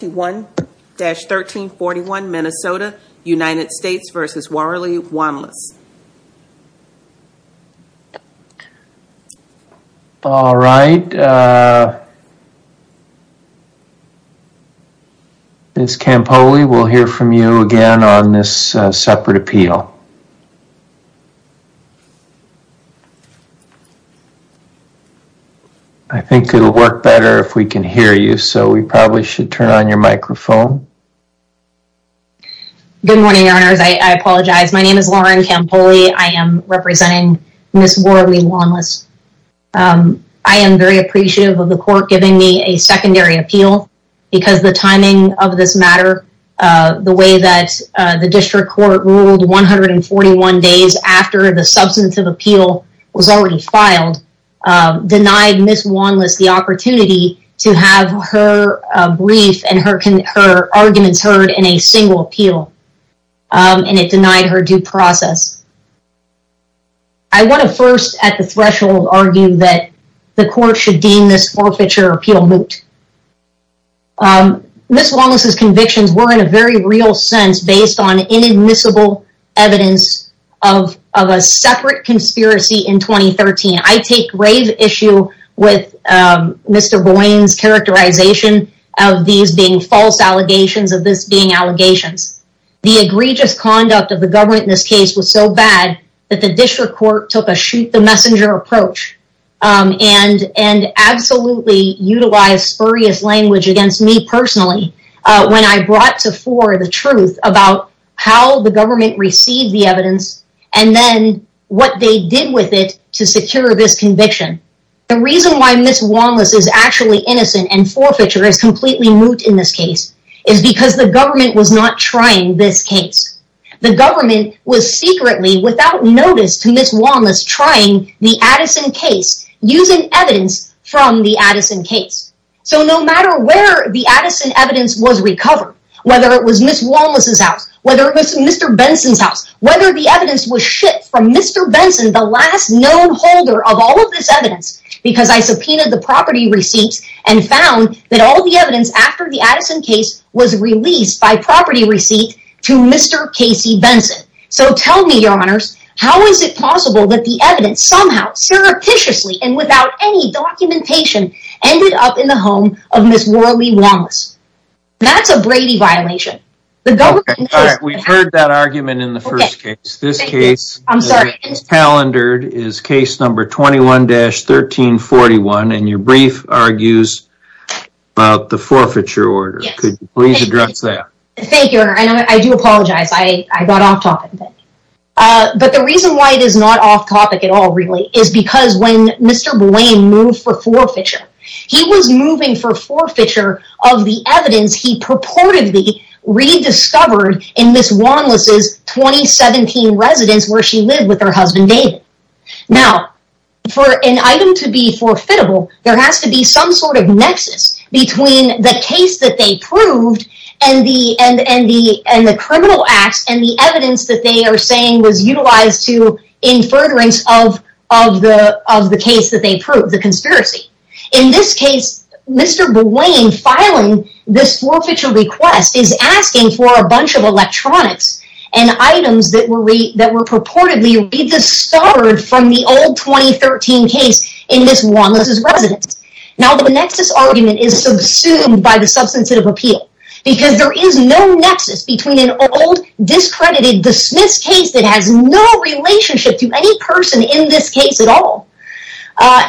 All right, Ms. Campoli, we'll hear from you again on this separate appeal. I think it'll work better if we can hear you, so we probably should turn on your microphone. Good morning, your honors. I apologize. My name is Lauren Campoli. I am representing Ms. Waralee Wanless. I am very appreciative of the court giving me a secondary appeal because the timing of this matter, the way that the district court ruled 141 days after the substantive appeal was already filed, denied Ms. Wanless the opportunity to have her brief and her arguments heard in a single appeal, and it denied her due process. I want to first at the threshold argue that the court should deem this forfeiture appeal moot. Ms. Wanless's convictions were in a very real sense based on inadmissible evidence of a separate conspiracy in 2013. I take grave issue with Mr. Boyne's characterization of these being false allegations of this being allegations. The egregious conduct of the government in this case was so bad that the district court took a shoot-the-messenger approach and absolutely utilized spurious language against me personally when I brought to fore the truth about how the government received the evidence and then what they did with it to secure this conviction. The reason why Ms. Wanless is actually innocent and forfeiture is completely moot in this case is because the government was not trying this case. The government was secretly without notice to Ms. Wanless trying the Addison case using evidence from the Addison case. So no matter where the Addison evidence was recovered, whether it was Ms. Wanless's house, whether it was Mr. Benson's house, whether the evidence was shipped from Mr. Benson, the last known holder of all of this evidence, because I subpoenaed the property receipts and found that all the evidence after the Addison case was released by property receipt to Mr. Casey Benson. So tell me, your honors, how is it possible that the evidence somehow surreptitiously and without any documentation ended up in the home of Ms. Worley Wanless? That's a Brady violation. We've heard that argument in the first case. This case is calendared is case number 21-1341 and your brief argues about the forfeiture order. Could you please address that? Thank you, your honor. I do apologize. I got off topic. But the reason why it is not off topic at all really is because when Mr. Blaine moved for forfeiture, he was moving for forfeiture of the evidence he purportedly rediscovered in Ms. Wanless's 2017 residence where she lived with her husband David. Now for an item to be forfeitable, there has to be some sort of nexus between the case that they proved and the criminal acts and the evidence that they are saying was utilized to in furtherance of the case that they proved, the conspiracy. In this case, Mr. Blaine filing this forfeiture request is asking for a bunch of electronics and items that were purportedly rediscovered from the old 2013 case in Ms. Wanless's residence. Now the nexus argument is subsumed by the substantive appeal because there is no nexus between an old discredited dismissed case that has no relationship to any person in this case at all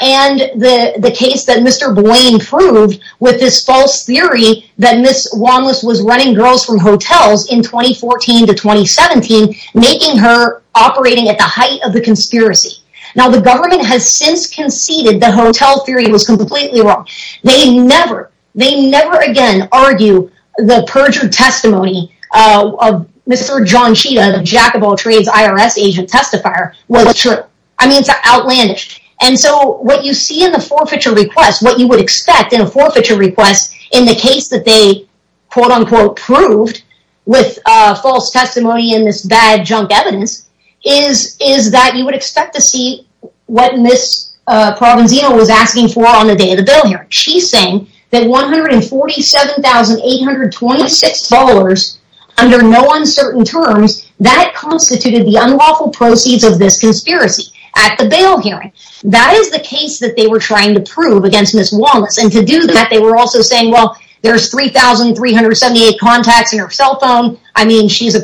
and the the case that Mr. Blaine proved with this false theory that Ms. Wanless was running girls from hotels in 2014 to 2017 making her operating at the height of the conspiracy. Now the government has since conceded the hotel theory was completely wrong. They never, they never again argue the perjured testimony of Mr. John Chita, the jack of all trades IRS agent testifier was true. I mean it's outlandish and so what you see in the forfeiture request, what you would expect in a forfeiture request in the case that they quote-unquote proved with false testimony in this bad junk evidence is that you would expect what Ms. Provenzino was asking for on the day of the bail hearing. She's saying that $147,826 under no uncertain terms that constituted the unlawful proceeds of this conspiracy at the bail hearing. That is the case that they were trying to prove against Ms. Wanless and to do that they were also saying well there's 3,378 contacts in her cell phone. I mean she's a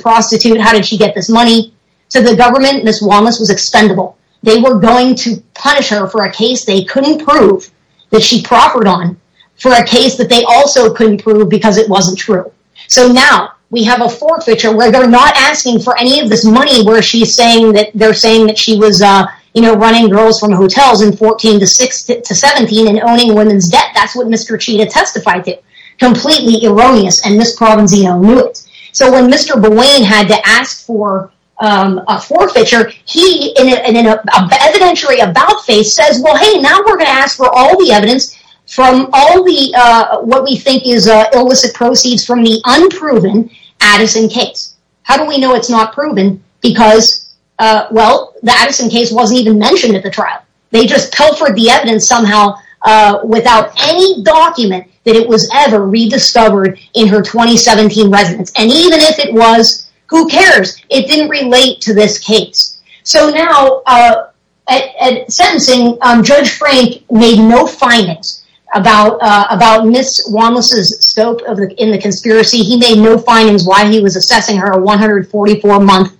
they were going to punish her for a case they couldn't prove that she proffered on for a case that they also couldn't prove because it wasn't true. So now we have a forfeiture where they're not asking for any of this money where she's saying that they're saying that she was uh you know running girls from hotels in 14 to 6 to 17 and owning women's debt. That's what Mr. Chita testified to. Completely erroneous and Ms. Provenzino knew it. So when Mr. Bowane had to ask for um a forfeiture he in an evidentiary about face says well hey now we're gonna ask for all the evidence from all the uh what we think is uh illicit proceeds from the unproven Addison case. How do we know it's not proven because uh well the Addison case wasn't even mentioned at the trial. They just pilfered the evidence somehow uh without any document that it was ever rediscovered in her residence and even if it was who cares it didn't relate to this case. So now uh at sentencing um Judge Frank made no findings about uh about Ms. Wallace's scope of in the conspiracy. He made no findings why he was assessing her 144 month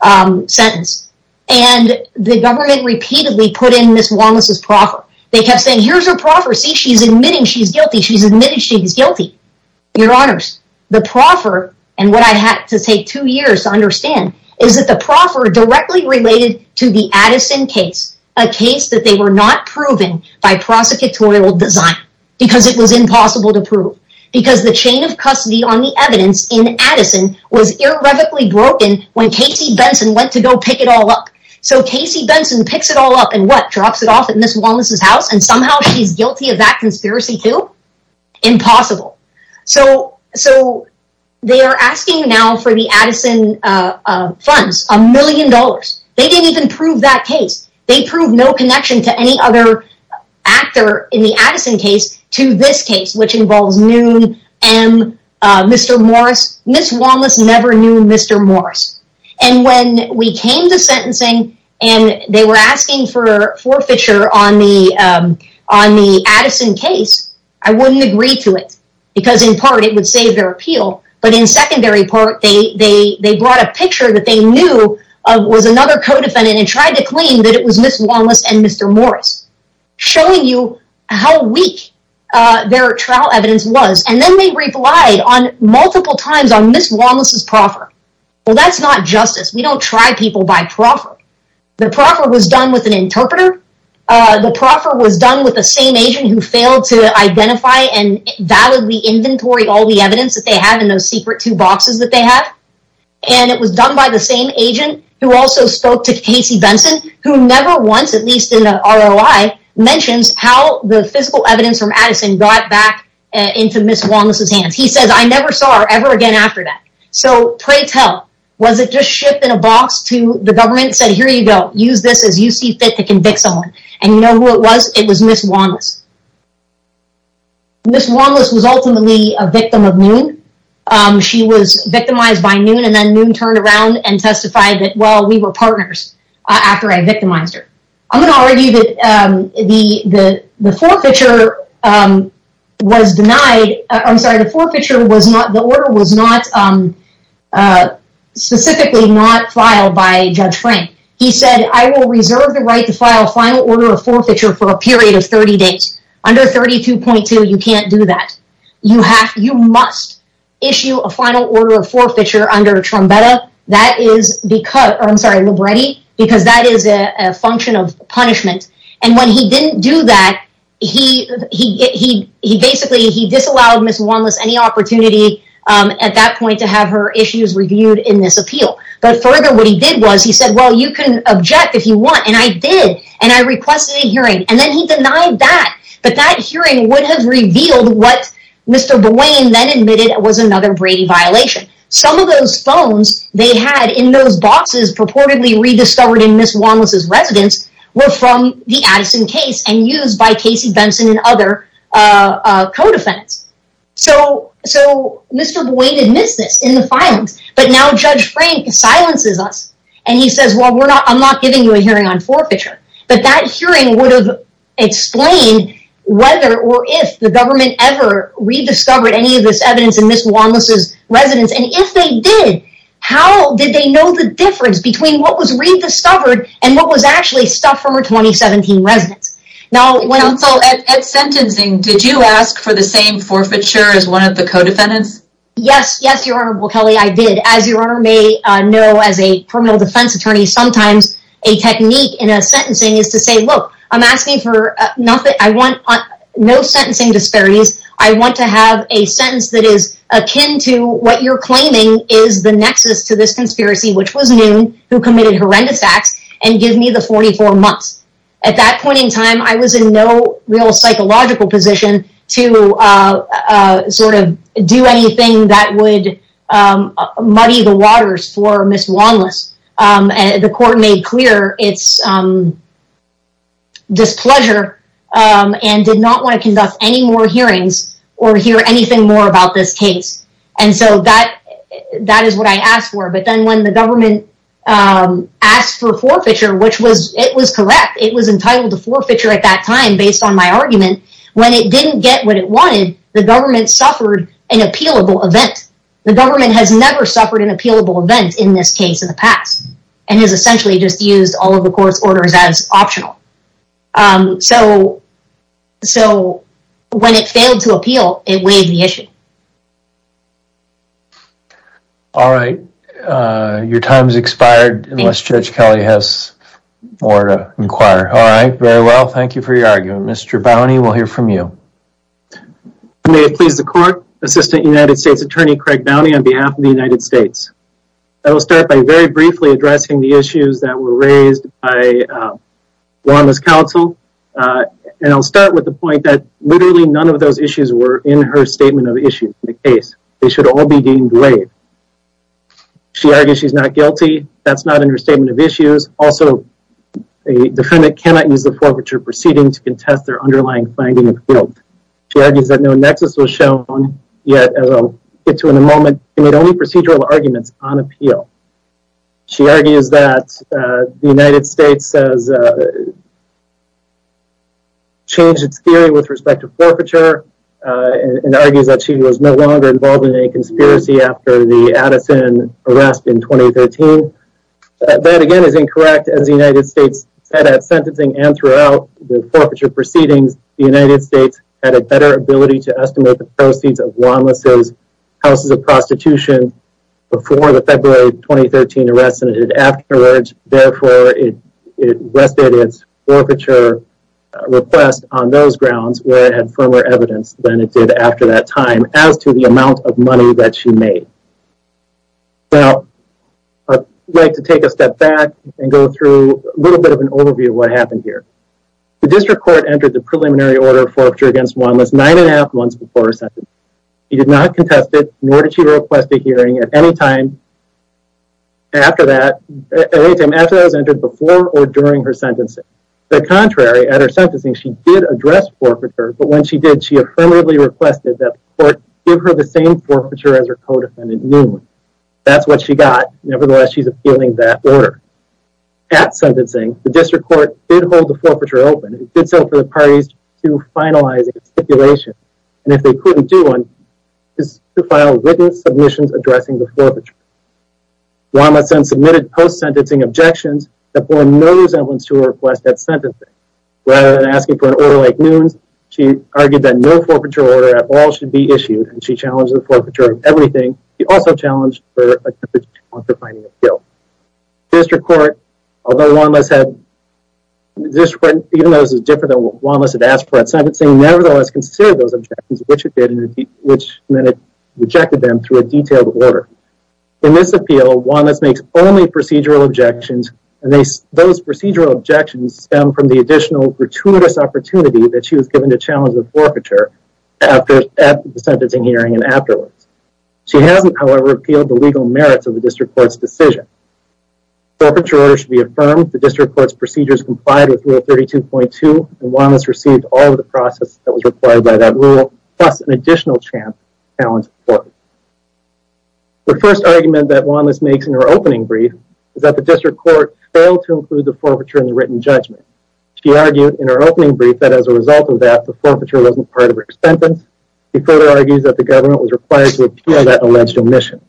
um sentence and the government repeatedly put in Ms. Wallace's proffer. They kept saying here's her prophecy she's admitting she's guilty she's guilty. Your honors the proffer and what I had to take two years to understand is that the proffer directly related to the Addison case a case that they were not proven by prosecutorial design because it was impossible to prove because the chain of custody on the evidence in Addison was irrevocably broken when Casey Benson went to go pick it all up. So Casey Benson picks it all up and what drops it off at Ms. Wallace's house and somehow she's guilty of that conspiracy too impossible. So so they are asking now for the Addison uh uh funds a million dollars. They didn't even prove that case. They proved no connection to any other actor in the Addison case to this case which involves Noon, M, uh Mr. Morris. Ms. Wallace never knew Mr. Morris and when we came to sentencing and they were asking for forfeiture on the um on the Addison case I wouldn't agree to it because in part it would save their appeal but in secondary part they they they brought a picture that they knew of was another co-defendant and tried to claim that it was Ms. Wallace and Mr. Morris showing you how weak uh their trial evidence was and then they replied on multiple times on Ms. Wallace's proffer. Well that's not justice. We don't try people by proffer. The proffer was done with an interpreter. Uh the proffer was done with the same agent who failed to identify and validly inventory all the evidence that they have in those secret two boxes that they have and it was done by the same agent who also spoke to Casey Benson who never once at least in a ROI mentions how the physical evidence from Addison got back into Ms. Wallace's hands. He says I never saw her ever again after that. So pray tell was it just shipped in a box to the government said here you go use this as you see fit to convict someone and you know who it was? It was Ms. Wallace. Ms. Wallace was ultimately a victim of Noon. Um she was victimized by Noon and then Noon turned around and testified that well we were partners uh after I victimized her. I'm gonna argue that the the the forfeiture um was denied. I'm sorry the forfeiture was not the order was not um uh specifically not filed by Judge Frank. He said I will reserve the right to file a final order of forfeiture for a period of 30 days. Under 32.2 you can't do that. You have you must issue a final order of forfeiture under Trumbetta. That is because I'm sorry Libretti because that is a function of punishment and when he didn't do that he he he he basically he disallowed Ms. Wallace any opportunity um at that point to have her issues reviewed in this appeal. But further what he did was he said well you can object if you want and I did and I requested a hearing and then he denied that. But that hearing would have revealed what Mr. Buane then admitted was another Brady violation. Some of those phones they had in those boxes purportedly rediscovered in Ms. Wallace's residence were from the Addison case and used by Casey Benson and other uh uh co-defendants. So so Mr. Buane admits this in the filings but now Judge Frank silences us and he says well we're not I'm not giving you a hearing on forfeiture. But that hearing would have explained whether or if the government ever rediscovered any of this evidence in Ms. Wallace's residence and if they did how did they know the difference between what was rediscovered and what was actually stuff from her 2017 residence. Now when counsel at sentencing did you ask for the same forfeiture as one of the co-defendants? Yes yes your honorable Kelly I did as your honor may uh know as a criminal defense attorney sometimes a technique in a sentencing is to say look I'm asking for nothing I want no sentencing disparities I want to have a sentence that is akin to what you're claiming is the nexus to this conspiracy which was noon who committed horrendous acts and give me the 44 months. At that point in time I was in no real psychological position to uh uh sort of do anything that would um muddy the waters for Ms. Wallace um and the court made clear it's um displeasure um and did not want to conduct any more hearings or hear anything more about this case and so that that is what I asked for but then when the government um asked for forfeiture which was it was correct it was entitled to forfeiture at that time based on my argument when it didn't get what it wanted the government suffered an appealable event the government has never suffered an appealable event in this case in the past and has essentially just used all of the court's orders as optional um so so when it failed to appeal it waived the issue. All right uh your time's expired unless Judge Kelly has more to inquire all right very well thank you for your argument Mr. Bownie we'll hear from you. May it please the court Assistant United States Attorney Craig Bownie on behalf of the United States. I will start by very briefly addressing the issues that were raised by uh Wanda's counsel uh and I'll start with the point that literally none of those issues were in her statement of issues in the case they should all be deemed grave. She argues she's not guilty that's not in her statement of issues also a defendant cannot use the forfeiture proceeding to contest their underlying finding of guilt. She argues that no nexus was shown yet as I'll get to in a moment and it only procedural arguments on appeal. She argues that the United States has changed its theory with respect to forfeiture and argues that she was no longer involved in any conspiracy after the Addison arrest in 2013. That again is incorrect as the United States said at sentencing and throughout the forfeiture proceedings the United States had a better ability to estimate the proceeds of Wanda's houses of prostitution before the February 2013 arrest than it did afterwards therefore it rested its forfeiture request on those grounds where it had firmer evidence than it did after that time as to the amount of money that she made. Now I'd like to take a step back and go through a little bit of an overview of what happened here. The district court entered the preliminary order of forfeiture against Wanda's nine and a half months before her sentence. She did not contest it nor did she request a hearing at any time after that at any time after that was entered before or during her sentencing. The contrary at her sentencing she did address forfeiture but when she did she affirmatively requested that the court give her the same forfeiture as her co-defendant knew that's what she got nevertheless she's appealing that order. At sentencing the district court did hold the forfeiture open it did so for the parties to finalize its stipulation and if they couldn't do one is to file written submissions addressing the forfeiture. Wanda then submitted post-sentencing objections that bore no resemblance to her request at sentencing. Rather than asking for an order like Nunes she argued that no forfeiture order at all should be issued and she challenged the forfeiture of everything she also challenged her attempt at finding a kill. District court although Wanda's had district court even though this is different than what Wanda's had asked for at sentencing nevertheless considered those objections which it did and which then it rejected them through a detailed order. In this appeal Wanda's makes only procedural objections and they those procedural objections stem from the additional gratuitous opportunity that she was given to challenge the forfeiture after at the sentencing hearing and afterwards. She hasn't however appealed the legal merits of the district court's decision forfeiture order should be affirmed the district court's procedures complied with rule 32.2 and Wanda's received all of the process that was required by that rule plus an additional chance challenge court. The first argument that Wanda's makes in her opening brief is that the district court failed to include the forfeiture in the written judgment. She argued in her opening brief that as a result of that the forfeiture wasn't part of her sentence. She further argues that the government was required to appeal that alleged omission.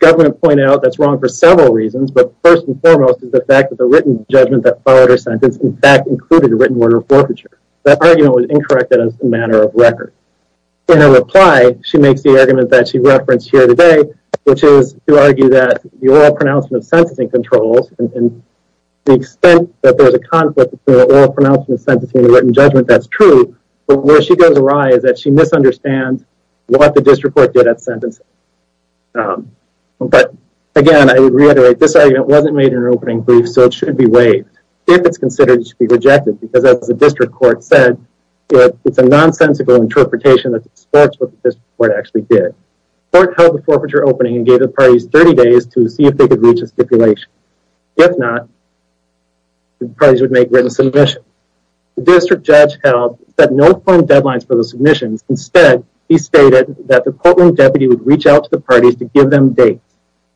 Government pointed out that's several reasons but first and foremost is the fact that the written judgment that followed her sentence in fact included a written word of forfeiture. That argument was incorrect as a matter of record. In her reply she makes the argument that she referenced here today which is to argue that the oral pronouncement of sentencing controls and the extent that there's a conflict between the oral pronouncement of sentencing and the written judgment that's true but where she goes awry is that she misunderstands what the district court did at sentencing. But again I reiterate this argument wasn't made in her opening brief so it shouldn't be waived if it's considered to be rejected because as the district court said it's a nonsensical interpretation that supports what the district court actually did. The court held the forfeiture opening and gave the parties 30 days to see if they could reach a stipulation. If not the parties would make written submissions. The district judge held that no planned deadlines for the submissions instead he stated that the courtroom deputy would reach out to the parties to give them dates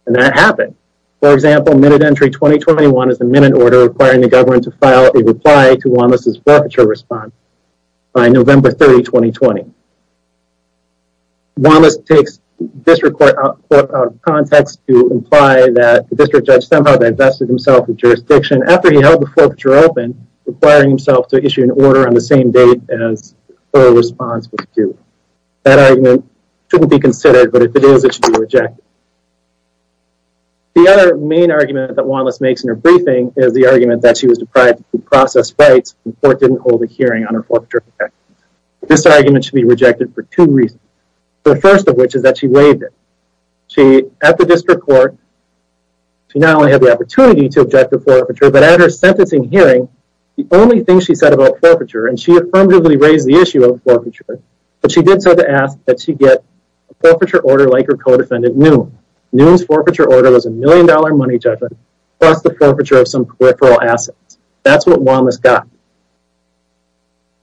and that happened. For example minute entry 2021 is the minute order requiring the government to file a reply to Wallace's forfeiture response by November 30, 2020. Wallace takes district court out of context to imply that the district judge somehow divested himself of jurisdiction after he held the forfeiture open requiring himself to issue an order on the same date as oral response that argument shouldn't be considered but if it is it should be rejected. The other main argument that Wallace makes in her briefing is the argument that she was deprived to process rights and the court didn't hold a hearing on her forfeiture. This argument should be rejected for two reasons the first of which is that she waived it. She at the district court she not only had the opportunity to object to forfeiture but at her sentencing hearing the only thing she said about forfeiture and she affirmatively raised the issue of forfeiture she did so to ask that she get a forfeiture order like her co-defendant Neum. Neum's forfeiture order was a million dollar money judgment plus the forfeiture of some peripheral assets. That's what Wallace got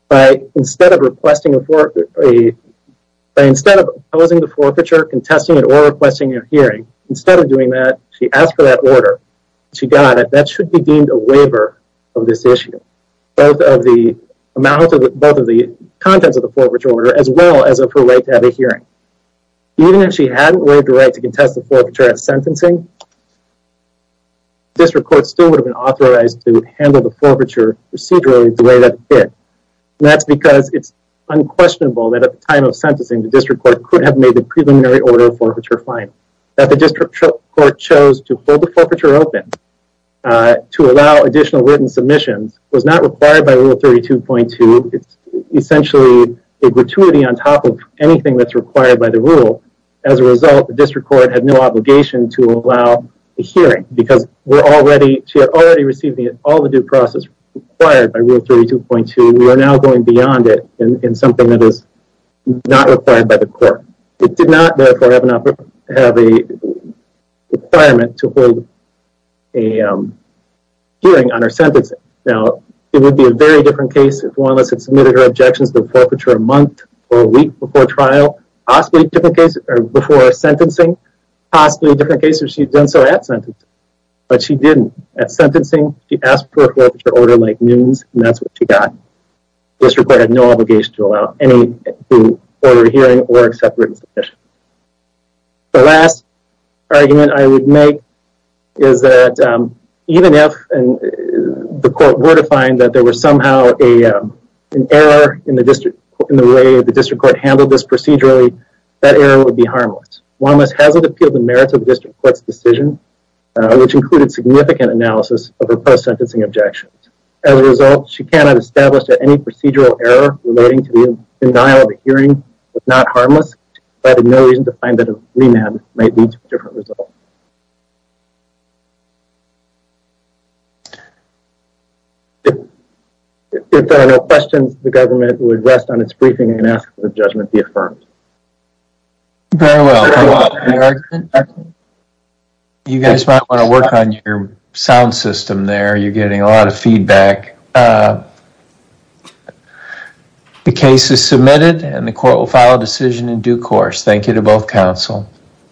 by instead of requesting a for a instead of opposing the forfeiture contesting it or requesting a hearing instead of doing that she asked for that order she got it that should be deemed a waiver of this issue both of the amount of both of the contents of the forfeiture order as well as of her right to have a hearing. Even if she hadn't waived the right to contest the forfeiture at sentencing district court still would have been authorized to handle the forfeiture procedurally the way that it did. That's because it's unquestionable that at the time of sentencing the district court could have made the preliminary order of forfeiture final. That the district court chose to hold the forfeiture open uh to allow additional written submissions was not required by rule 32.2. It's essentially a gratuity on top of anything that's required by the rule. As a result the district court had no obligation to allow a hearing because we're already she had already received all the due process required by rule 32.2. We are now going beyond it in something that is not required by court. It did not therefore have an have a requirement to hold a hearing on her sentencing. Now it would be a very different case if one of us had submitted her objections the forfeiture a month or a week before trial possibly a different case or before sentencing possibly a different case if she'd done so at sentence but she didn't at sentencing she asked for a forfeiture order like submission. The last argument I would make is that um even if and the court were to find that there was somehow a um an error in the district in the way the district court handled this procedurally that error would be harmless. Juanma's hasn't appealed the merits of the district court's decision which included significant analysis of her post-sentencing objections. As a result she cannot establish that any procedural error relating to the denial of a hearing was not harmless but had no reason to find that a remand might lead to a different result. If there are no questions the government would rest on its briefing and ask for the judgment be affirmed. Very well you guys might want to work on your sound system there you're getting a lot of feedback. The case is submitted and the court will file a decision in due course. Thank you to both counsel.